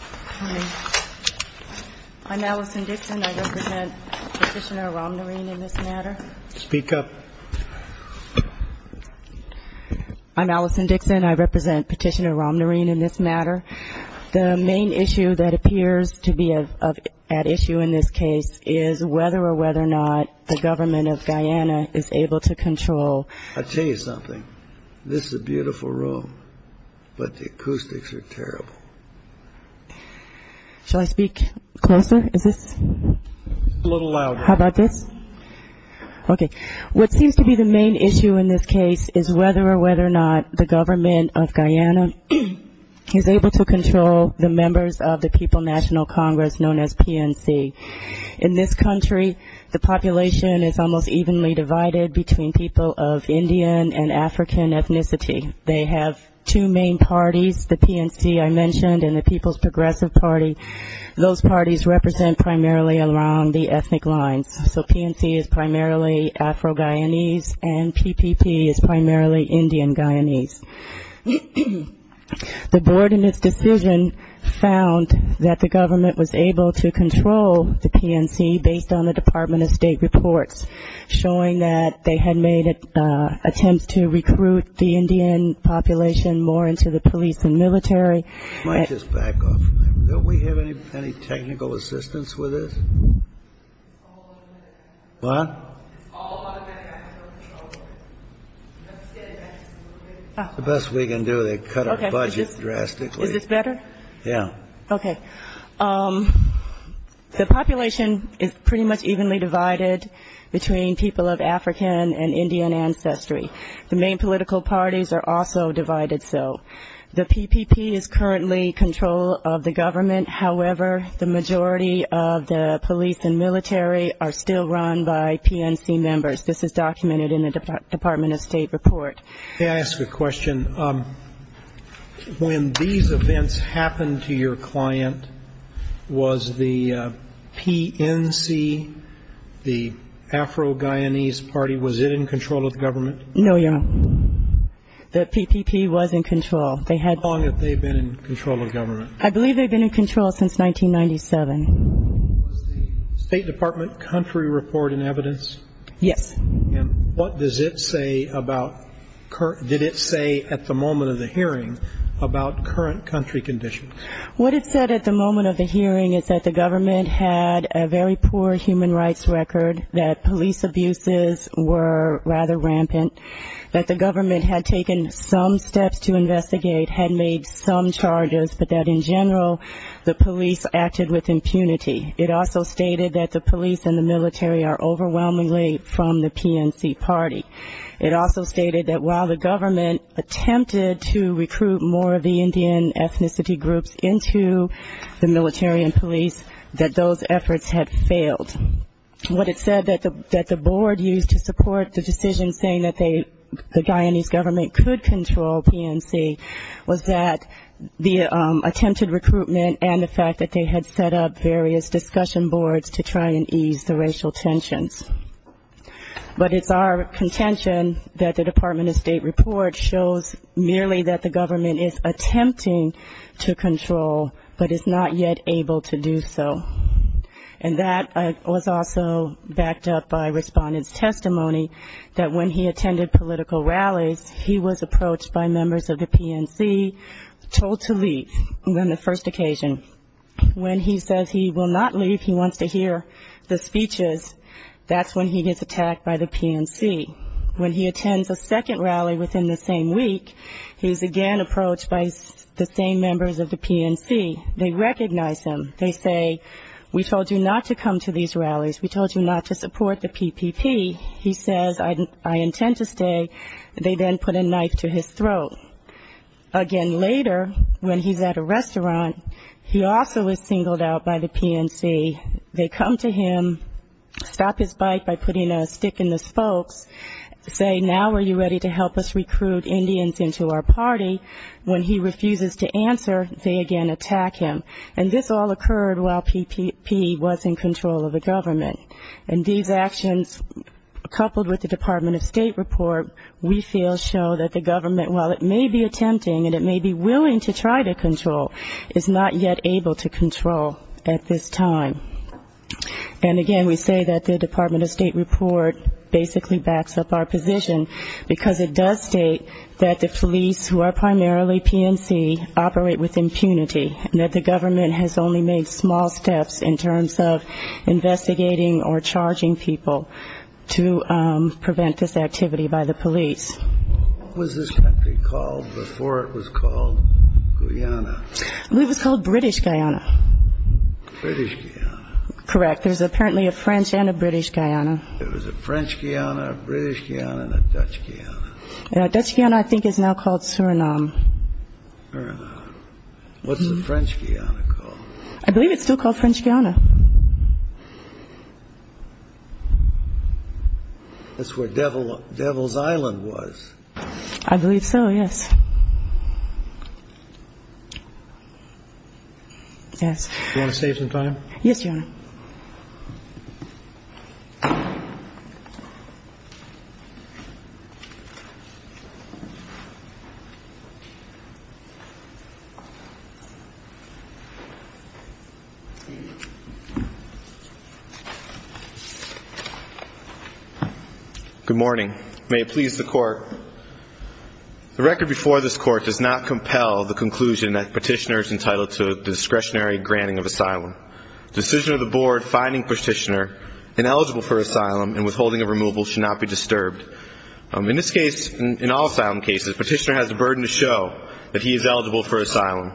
Hi, I'm Allison Dixon. I represent Petitioner Ramnarine in this matter. Speak up. I'm Allison Dixon. I represent Petitioner Ramnarine in this matter. The main issue that appears to be at issue in this case is whether or whether or not the government of Guyana is able to control. I'll tell you something. This is a beautiful room, but the acoustics are terrible. Shall I speak closer? Is this? A little louder. How about this? Okay. What seems to be the main issue in this case is whether or whether or not the government of Guyana is able to control the members of the People National Congress, known as PNC. In this country, the population is almost evenly divided between people of Indian and African ethnicity. They have two main parties, the PNC I mentioned and the People's Progressive Party. Those parties represent primarily along the ethnic lines. So PNC is primarily Afro-Guyanese and PPP is primarily Indian-Guyanese. The board in its decision found that the government was able to control the PNC based on the Department of State reports, showing that they had made attempts to recruit the Indian population more into the police and military. Might I just back off for a minute? Don't we have any technical assistance with this? What? The best we can do to cut our budget drastically. Is this better? Yeah. Okay. The population is pretty much evenly divided between people of African and Indian ancestry. The main political parties are also divided so. The PPP is currently control of the government. However, the majority of the police and military are still run by PNC members. This is documented in the Department of State report. May I ask a question? When these events happened to your client, was the PNC, the Afro-Guyanese party, was it in control of the government? No, Your Honor. The PPP was in control. How long have they been in control of government? I believe they've been in control since 1997. Was the State Department country report in evidence? Yes. And what does it say about, did it say at the moment of the hearing about current country conditions? What it said at the moment of the hearing is that the government had a very poor human rights record, that police abuses were rather rampant, that the government had taken some steps to investigate, had made some charges, but that in general the police acted with impunity. It also stated that the police and the military are overwhelmingly from the PNC party. It also stated that while the government attempted to recruit more of the Indian ethnicity groups into the military and police, that those efforts had failed. What it said that the board used to support the decision saying that the Guyanese government could control PNC was that the attempted recruitment and the fact that they had set up various discussion boards to try and ease the racial tensions. But it's our contention that the Department of State report shows merely that the government is attempting to control, but is not yet able to do so. And that was also backed up by respondents' testimony that when he attended political rallies, he was approached by members of the PNC, told to leave on the first occasion. When he says he will not leave, he wants to hear the speeches, that's when he gets attacked by the PNC. When he attends a second rally within the same week, he's again approached by the same members of the PNC. They recognize him, they say, we told you not to come to these rallies, we told you not to support the PPP. He says, I intend to stay. They then put a knife to his throat. Again later, when he's at a restaurant, he also is singled out by the PNC. They come to him, stop his bite by putting a stick in the spokes, say, now are you ready to help us recruit Indians into our party? When he refuses to answer, they again attack him. And this all occurred while PPP was in control of the government. And these actions, coupled with the Department of State report, we feel show that the government, while it may be attempting and it may be willing to try to control, is not yet able to control at this time. And again, we say that the Department of State report basically backs up our position, because it does state that the police, who are primarily PNC, operate with impunity, and that the government has only made small steps in terms of investigating or charging people to prevent this activity by the police. What was this country called before it was called Guyana? It was called British Guyana. British Guyana. Correct. There's apparently a French and a British Guyana. There was a French Guyana, a British Guyana, and a Dutch Guyana. Dutch Guyana, I think, is now called Suriname. Suriname. What's the French Guyana called? I believe it's still called French Guyana. That's where Devil's Island was. I believe so, yes. Yes. Do you want to save some time? Yes, Your Honor. Good morning. The record before this Court does not compel the conclusion that Petitioner is entitled to discretionary granting of asylum. The decision of the Board finding Petitioner ineligible for asylum and withholding of removal should not be disturbed. In this case, in all asylum cases, Petitioner has a burden to show that he is eligible for asylum.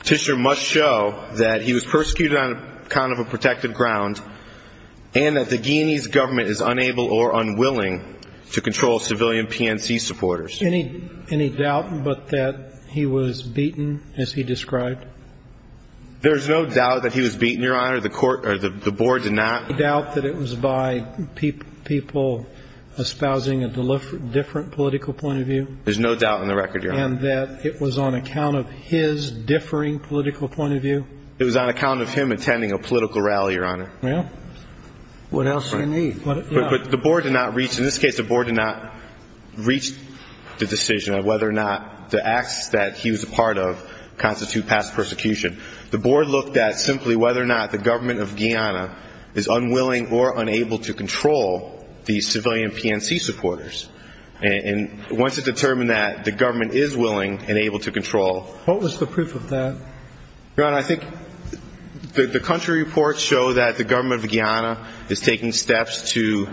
Petitioner must show that he was persecuted on account of a protected ground and that the Guyanese government is unable or unwilling to control civilian PNC supporters. Any doubt but that he was beaten, as he described? There's no doubt that he was beaten, Your Honor. The Board did not. Any doubt that it was by people espousing a different political point of view? There's no doubt on the record, Your Honor. And that it was on account of his differing political point of view? It was on account of him attending a political rally, Your Honor. Well, what else do you need? But the Board did not reach, in this case the Board did not reach the decision of whether or not the acts that he was a part of constitute past persecution. The Board looked at simply whether or not the government of Guyana is unwilling or unable to control the civilian PNC supporters. And once it determined that the government is willing and able to control. What was the proof of that? Your Honor, I think the country reports show that the government of Guyana is taking steps to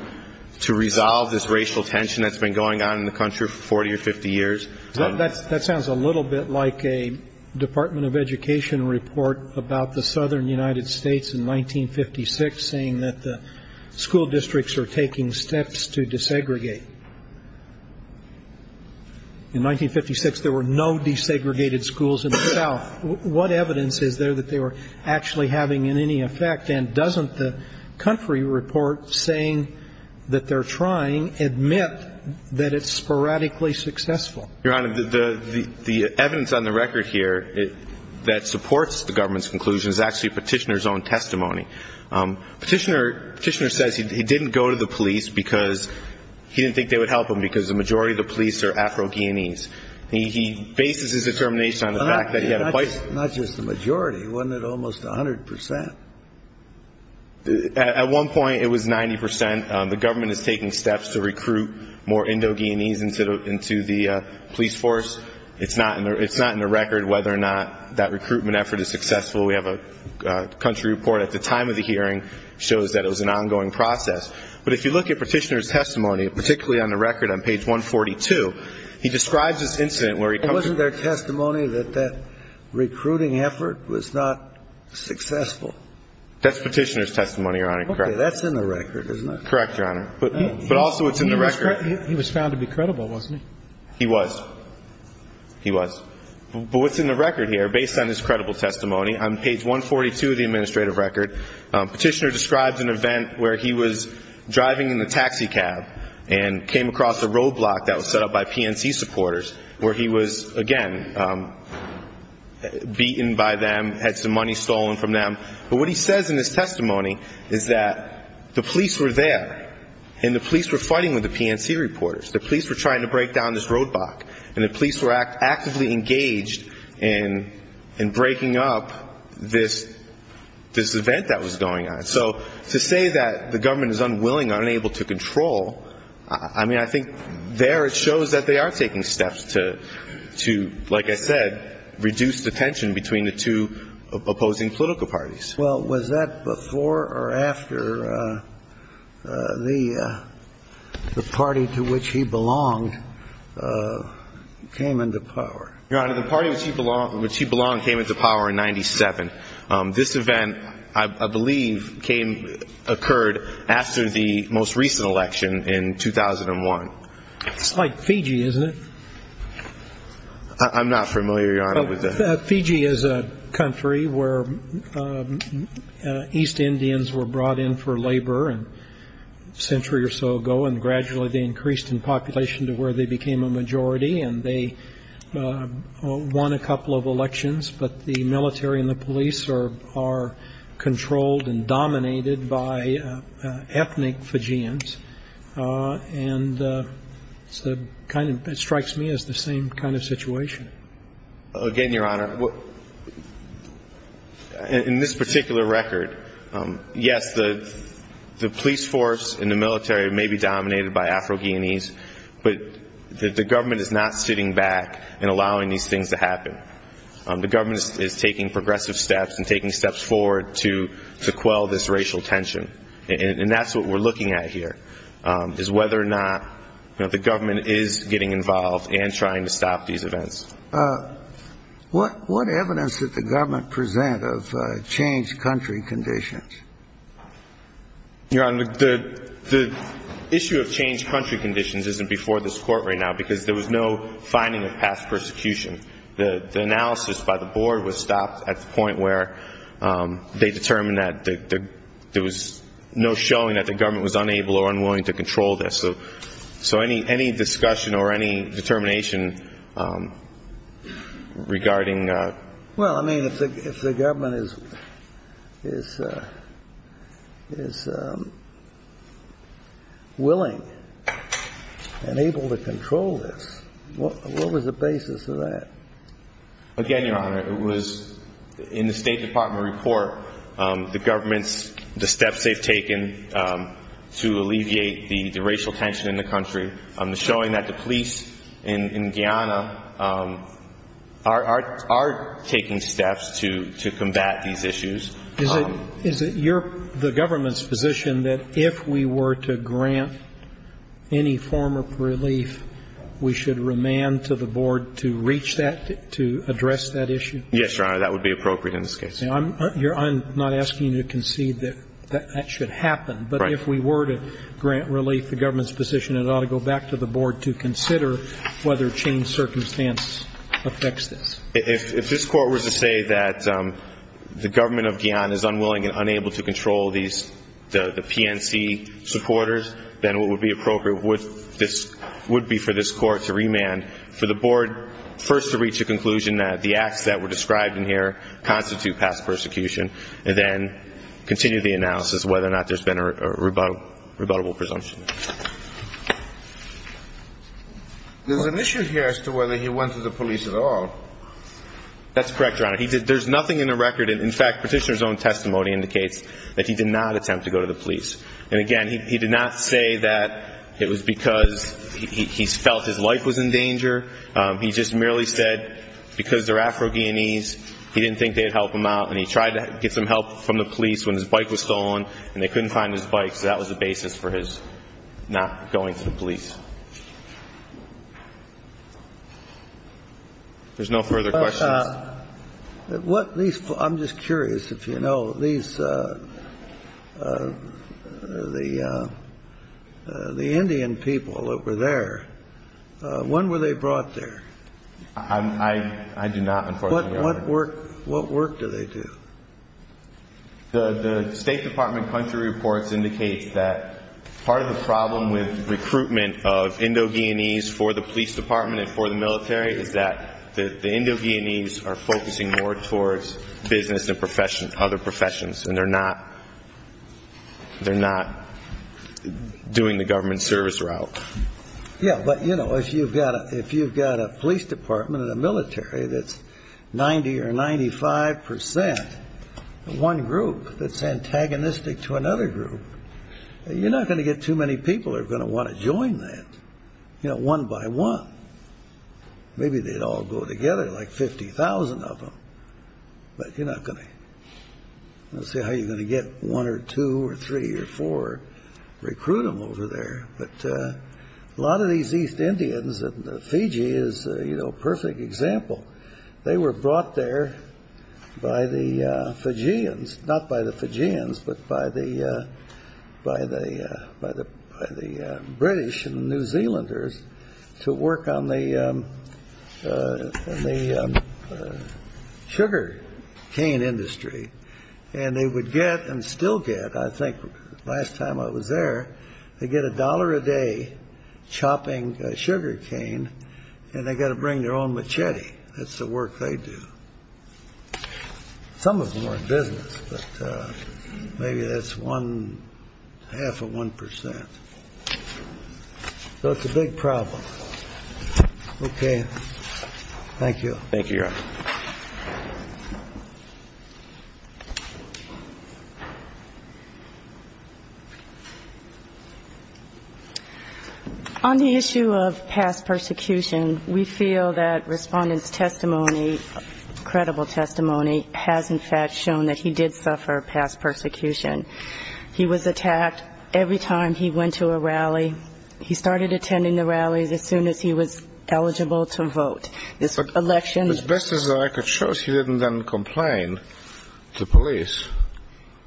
resolve this racial tension that's been going on in the country for 40 or 50 years. That sounds a little bit like a Department of Education report about the southern United States in 1956, saying that the school districts are taking steps to desegregate. In 1956, there were no desegregated schools in the south. What evidence is there that they were actually having any effect? And doesn't the country report saying that they're trying, admit that it's sporadically successful? Your Honor, the evidence on the record here that supports the government's conclusion is actually Petitioner's own testimony. Petitioner says he didn't go to the police because he didn't think they would help him because the majority of the police are Afro-Guyanese. He bases his determination on the fact that he had a voice. Not just the majority. Wasn't it almost 100 percent? At one point, it was 90 percent. The government is taking steps to recruit more Indo-Guyanese into the police force. It's not in the record whether or not that recruitment effort is successful. We have a country report at the time of the hearing shows that it was an ongoing process. But if you look at Petitioner's testimony, particularly on the record on page 142, he describes this incident where he comes from. Wasn't there testimony that that recruiting effort was not successful? That's Petitioner's testimony, Your Honor. Okay. That's in the record, isn't it? Correct, Your Honor. But also it's in the record. He was found to be credible, wasn't he? He was. He was. But what's in the record here, based on his credible testimony, on page 142 of the administrative record, Petitioner describes an event where he was driving in the taxi cab and came across a roadblock that was set up by PNC supporters where he was, again, beaten by them, had some money stolen from them. But what he says in his testimony is that the police were there and the police were fighting with the PNC reporters. The police were trying to break down this roadblock. And the police were actively engaged in breaking up this event that was going on. So to say that the government is unwilling, unable to control, I mean, I think there it shows that they are taking steps to, like I said, reduce the tension between the two opposing political parties. Well, was that before or after the party to which he belonged came into power? Your Honor, the party to which he belonged came into power in 97. This event, I believe, occurred after the most recent election in 2001. It's like Fiji, isn't it? I'm not familiar, Your Honor, with that. Fiji is a country where East Indians were brought in for labor a century or so ago, and gradually they increased in population to where they became a majority, and they won a couple of elections. But the military and the police are controlled and dominated by ethnic Fijians, and it strikes me as the same kind of situation. Again, Your Honor, in this particular record, yes, the police force and the military may be dominated by Afro-Guyanese, but the government is not sitting back and allowing these things to happen. The government is taking progressive steps and taking steps forward to quell this racial tension, and that's what we're looking at here is whether or not the government is getting involved and trying to stop these events. What evidence did the government present of changed country conditions? Your Honor, the issue of changed country conditions isn't before this Court right now because there was no finding of past persecution. The analysis by the board was stopped at the point where they determined that there was no showing that the government was unable or unwilling to control this. So any discussion or any determination regarding that? Well, I mean, if the government is willing and able to control this, what was the basis of that? Again, Your Honor, it was in the State Department report, the government's steps they've taken to alleviate the racial tension in the country, showing that the police in Guyana are taking steps to combat these issues. Is it the government's position that if we were to grant any form of relief, we should remand to the board to reach that, to address that issue? Yes, Your Honor, that would be appropriate in this case. I'm not asking you to concede that that should happen. But if we were to grant relief, the government's position, it ought to go back to the board to consider whether changed circumstance affects this. If this Court were to say that the government of Guyana is unwilling and unable to control the PNC supporters, then what would be appropriate would be for this Court to remand for the board first to reach a conclusion that the acts that were described in here constitute past persecution, and then continue the analysis of whether or not there's been a rebuttable presumption. There's an issue here as to whether he went to the police at all. That's correct, Your Honor. There's nothing in the record. In fact, Petitioner's own testimony indicates that he did not attempt to go to the police. And again, he did not say that it was because he felt his life was in danger. He just merely said because they're Afro-Guyanese, he didn't think they would help him out. And he tried to get some help from the police when his bike was stolen, and they couldn't find his bike. So that was the basis for his not going to the police. There's no further questions. I'm just curious if you know, these, the Indian people that were there, when were they brought there? I do not, unfortunately, Your Honor. What work do they do? The State Department country reports indicate that part of the problem with recruitment of Indo-Guyanese for the police department and for the military is that the Indo-Guyanese are focusing more towards business and other professions, and they're not doing the government service route. Yeah, but, you know, if you've got a police department and a military that's 90 or 95 percent, one group that's antagonistic to another group, you're not going to get too many people that are going to want to join that. You know, one by one. Maybe they'd all go together, like 50,000 of them, but you're not going to. Let's see how you're going to get one or two or three or four, recruit them over there. But a lot of these East Indians, and Fiji is, you know, a perfect example. They were brought there by the Fijians, not by the Fijians, but by the British and New Zealanders to work on the sugar cane industry, and they would get and still get, I think last time I was there, they'd get a dollar a day chopping sugar cane, and they got to bring their own machete. That's the work they do. Some of them are in business, but maybe that's one half of one percent. So it's a big problem. Thank you. Thank you, Your Honor. On the issue of past persecution, we feel that Respondent's testimony, credible testimony, has in fact shown that he did suffer past persecution. He was attacked every time he went to a rally. He started attending the rallies as soon as he was eligible to vote. This election was best as a rally. So I could show she didn't then complain to police.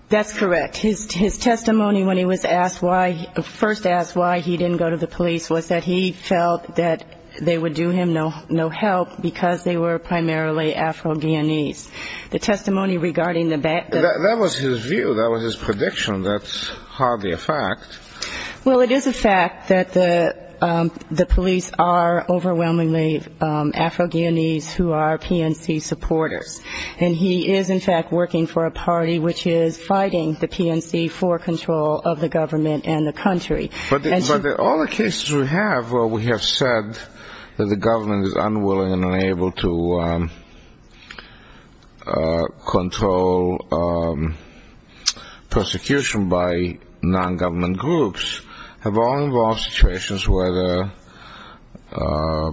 That's correct. His testimony when he was asked why, first asked why he didn't go to the police, was that he felt that they would do him no help because they were primarily Afro-Guyanese. The testimony regarding the back- That was his view. That was his prediction. That's hardly a fact. Well, it is a fact that the police are overwhelmingly Afro-Guyanese who are PNC supporters. And he is, in fact, working for a party which is fighting the PNC for control of the government and the country. But all the cases we have where we have said that the government is unwilling and unable to control persecution by non-government groups have all involved situations where the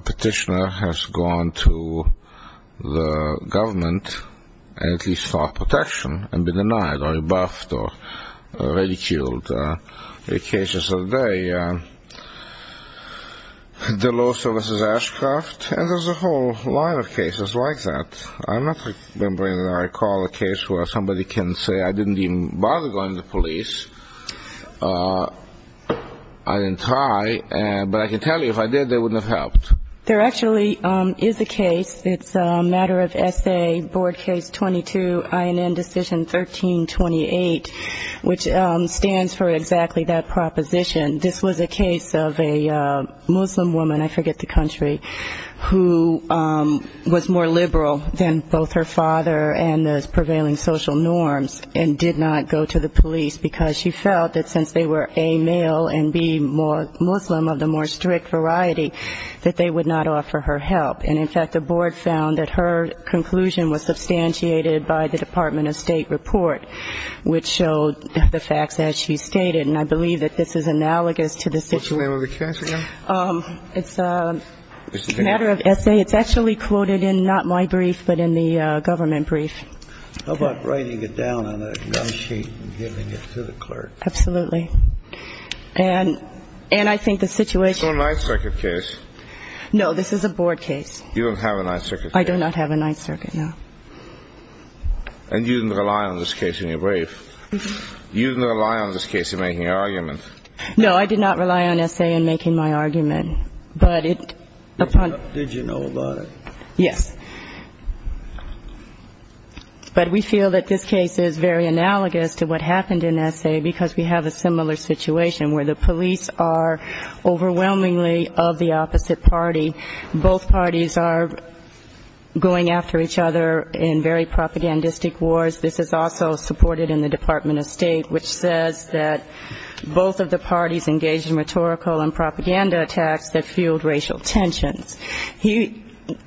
petitioner has gone to the government and at least sought protection and been denied or rebuffed or ridiculed. The cases of the day, the law services Ashcroft, and there's a whole line of cases like that. I'm not remembering that I recall a case where somebody can say I didn't even bother going to police. I didn't try, but I can tell you if I did, they wouldn't have helped. There actually is a case. It's a matter of essay, board case 22, INN decision 1328, which stands for exactly that proposition. This was a case of a Muslim woman, I forget the country, who was more liberal than both her father and the prevailing social norms and did not go to the police because she felt that since they were, A, male and, B, more Muslim of the more strict variety, that they would not offer her help. And, in fact, the board found that her conclusion was substantiated by the Department of State report, which showed the facts as she stated, and I believe that this is analogous to the situation. What's the name of the case again? It's a matter of essay. It's actually quoted in not my brief, but in the government brief. How about writing it down on a gum sheet and giving it to the clerk? Absolutely. And I think the situation. It's on my second case. No, this is a board case. You don't have a Ninth Circuit case. I do not have a Ninth Circuit, no. And you didn't rely on this case in your brief. You didn't rely on this case in making your argument. No, I did not rely on essay in making my argument. Did you know about it? Yes. But we feel that this case is very analogous to what happened in essay because we have a similar situation where the police are overwhelmingly of the opposite party. Both parties are going after each other in very propagandistic wars. This is also supported in the Department of State, which says that both of the parties engaged in rhetorical and propaganda attacks that fueled racial tensions.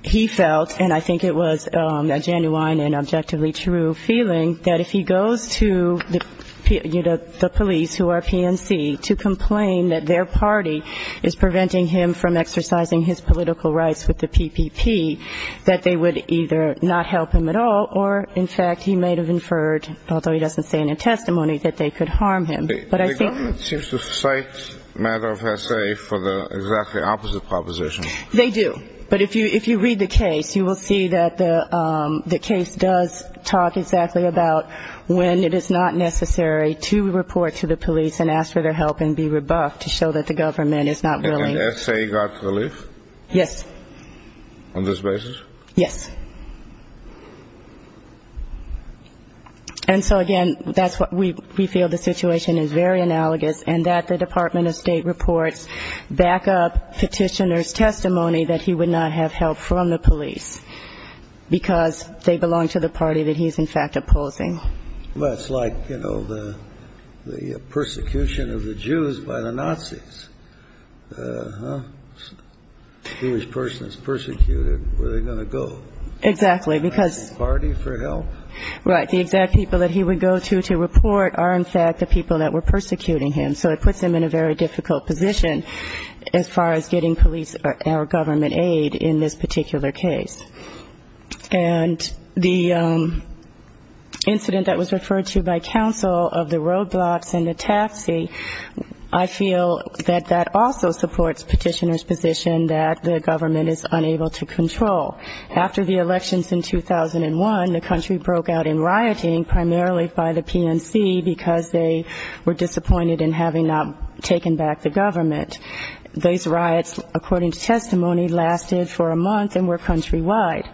He felt, and I think it was a genuine and objectively true feeling, that if he goes to the police, who are PNC, to complain that their party is preventing him from exercising his political rights with the PPP, that they would either not help him at all or, in fact, he may have inferred, although he doesn't say in a testimony, that they could harm him. But I think the government seems to cite a matter of essay for the exactly opposite proposition. They do. But if you read the case, you will see that the case does talk exactly about when it is not necessary to report to the police and ask for their help and be rebuffed to show that the government is not willing. And essay got relief? Yes. On this basis? Yes. And so, again, that's what we feel the situation is very analogous, and that the Department of State reports back-up petitioner's testimony that he would not have help from the police because they belong to the party that he's, in fact, opposing. Well, it's like, you know, the persecution of the Jews by the Nazis. A Jewish person is persecuted. Where are they going to go? Exactly, because the exact people that he would go to to report are, in fact, the people that were persecuting him, so it puts him in a very difficult position as far as getting police or government aid in this particular case. And the incident that was referred to by counsel of the roadblocks and the taxi, I feel that that also supports petitioner's position that the government is unable to control. After the elections in 2001, the country broke out in rioting, primarily by the PNC, because they were disappointed in having not taken back the government. Those riots, according to testimony, lasted for a month and were countrywide.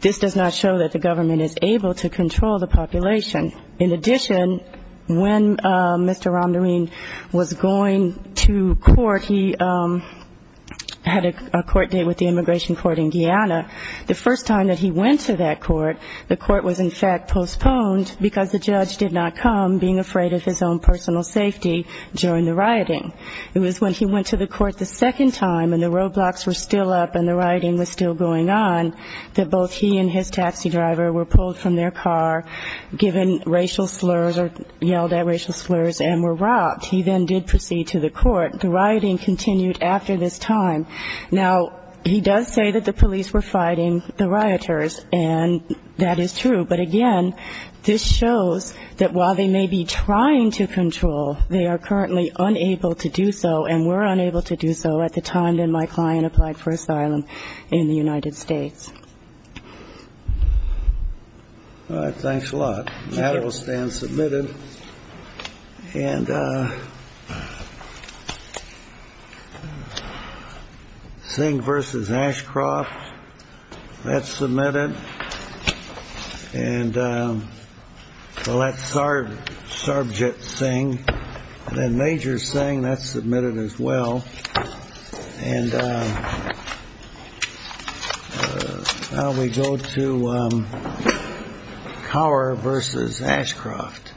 This does not show that the government is able to control the population. In addition, when Mr. Romnerine was going to court, he had a court date with the immigration court in Guyana. The first time that he went to that court, the court was, in fact, postponed because the judge did not come, being afraid of his own personal safety during the rioting. It was when he went to the court the second time and the roadblocks were still up and the rioting was still going on that both he and his taxi driver were pulled from their car, given racial slurs or yelled at racial slurs, and were robbed. He then did proceed to the court. The rioting continued after this time. Now, he does say that the police were fighting the rioters, and that is true. But again, this shows that while they may be trying to control, they are currently unable to do so and were unable to do so at the time that my client applied for asylum in the United States. All right. Thanks a lot. That will stand submitted. And Singh v. Ashcroft, that's submitted. And well, that's Sarbjit Singh. Then Major Singh, that's submitted as well. And now we go to Cower v. Ashcroft.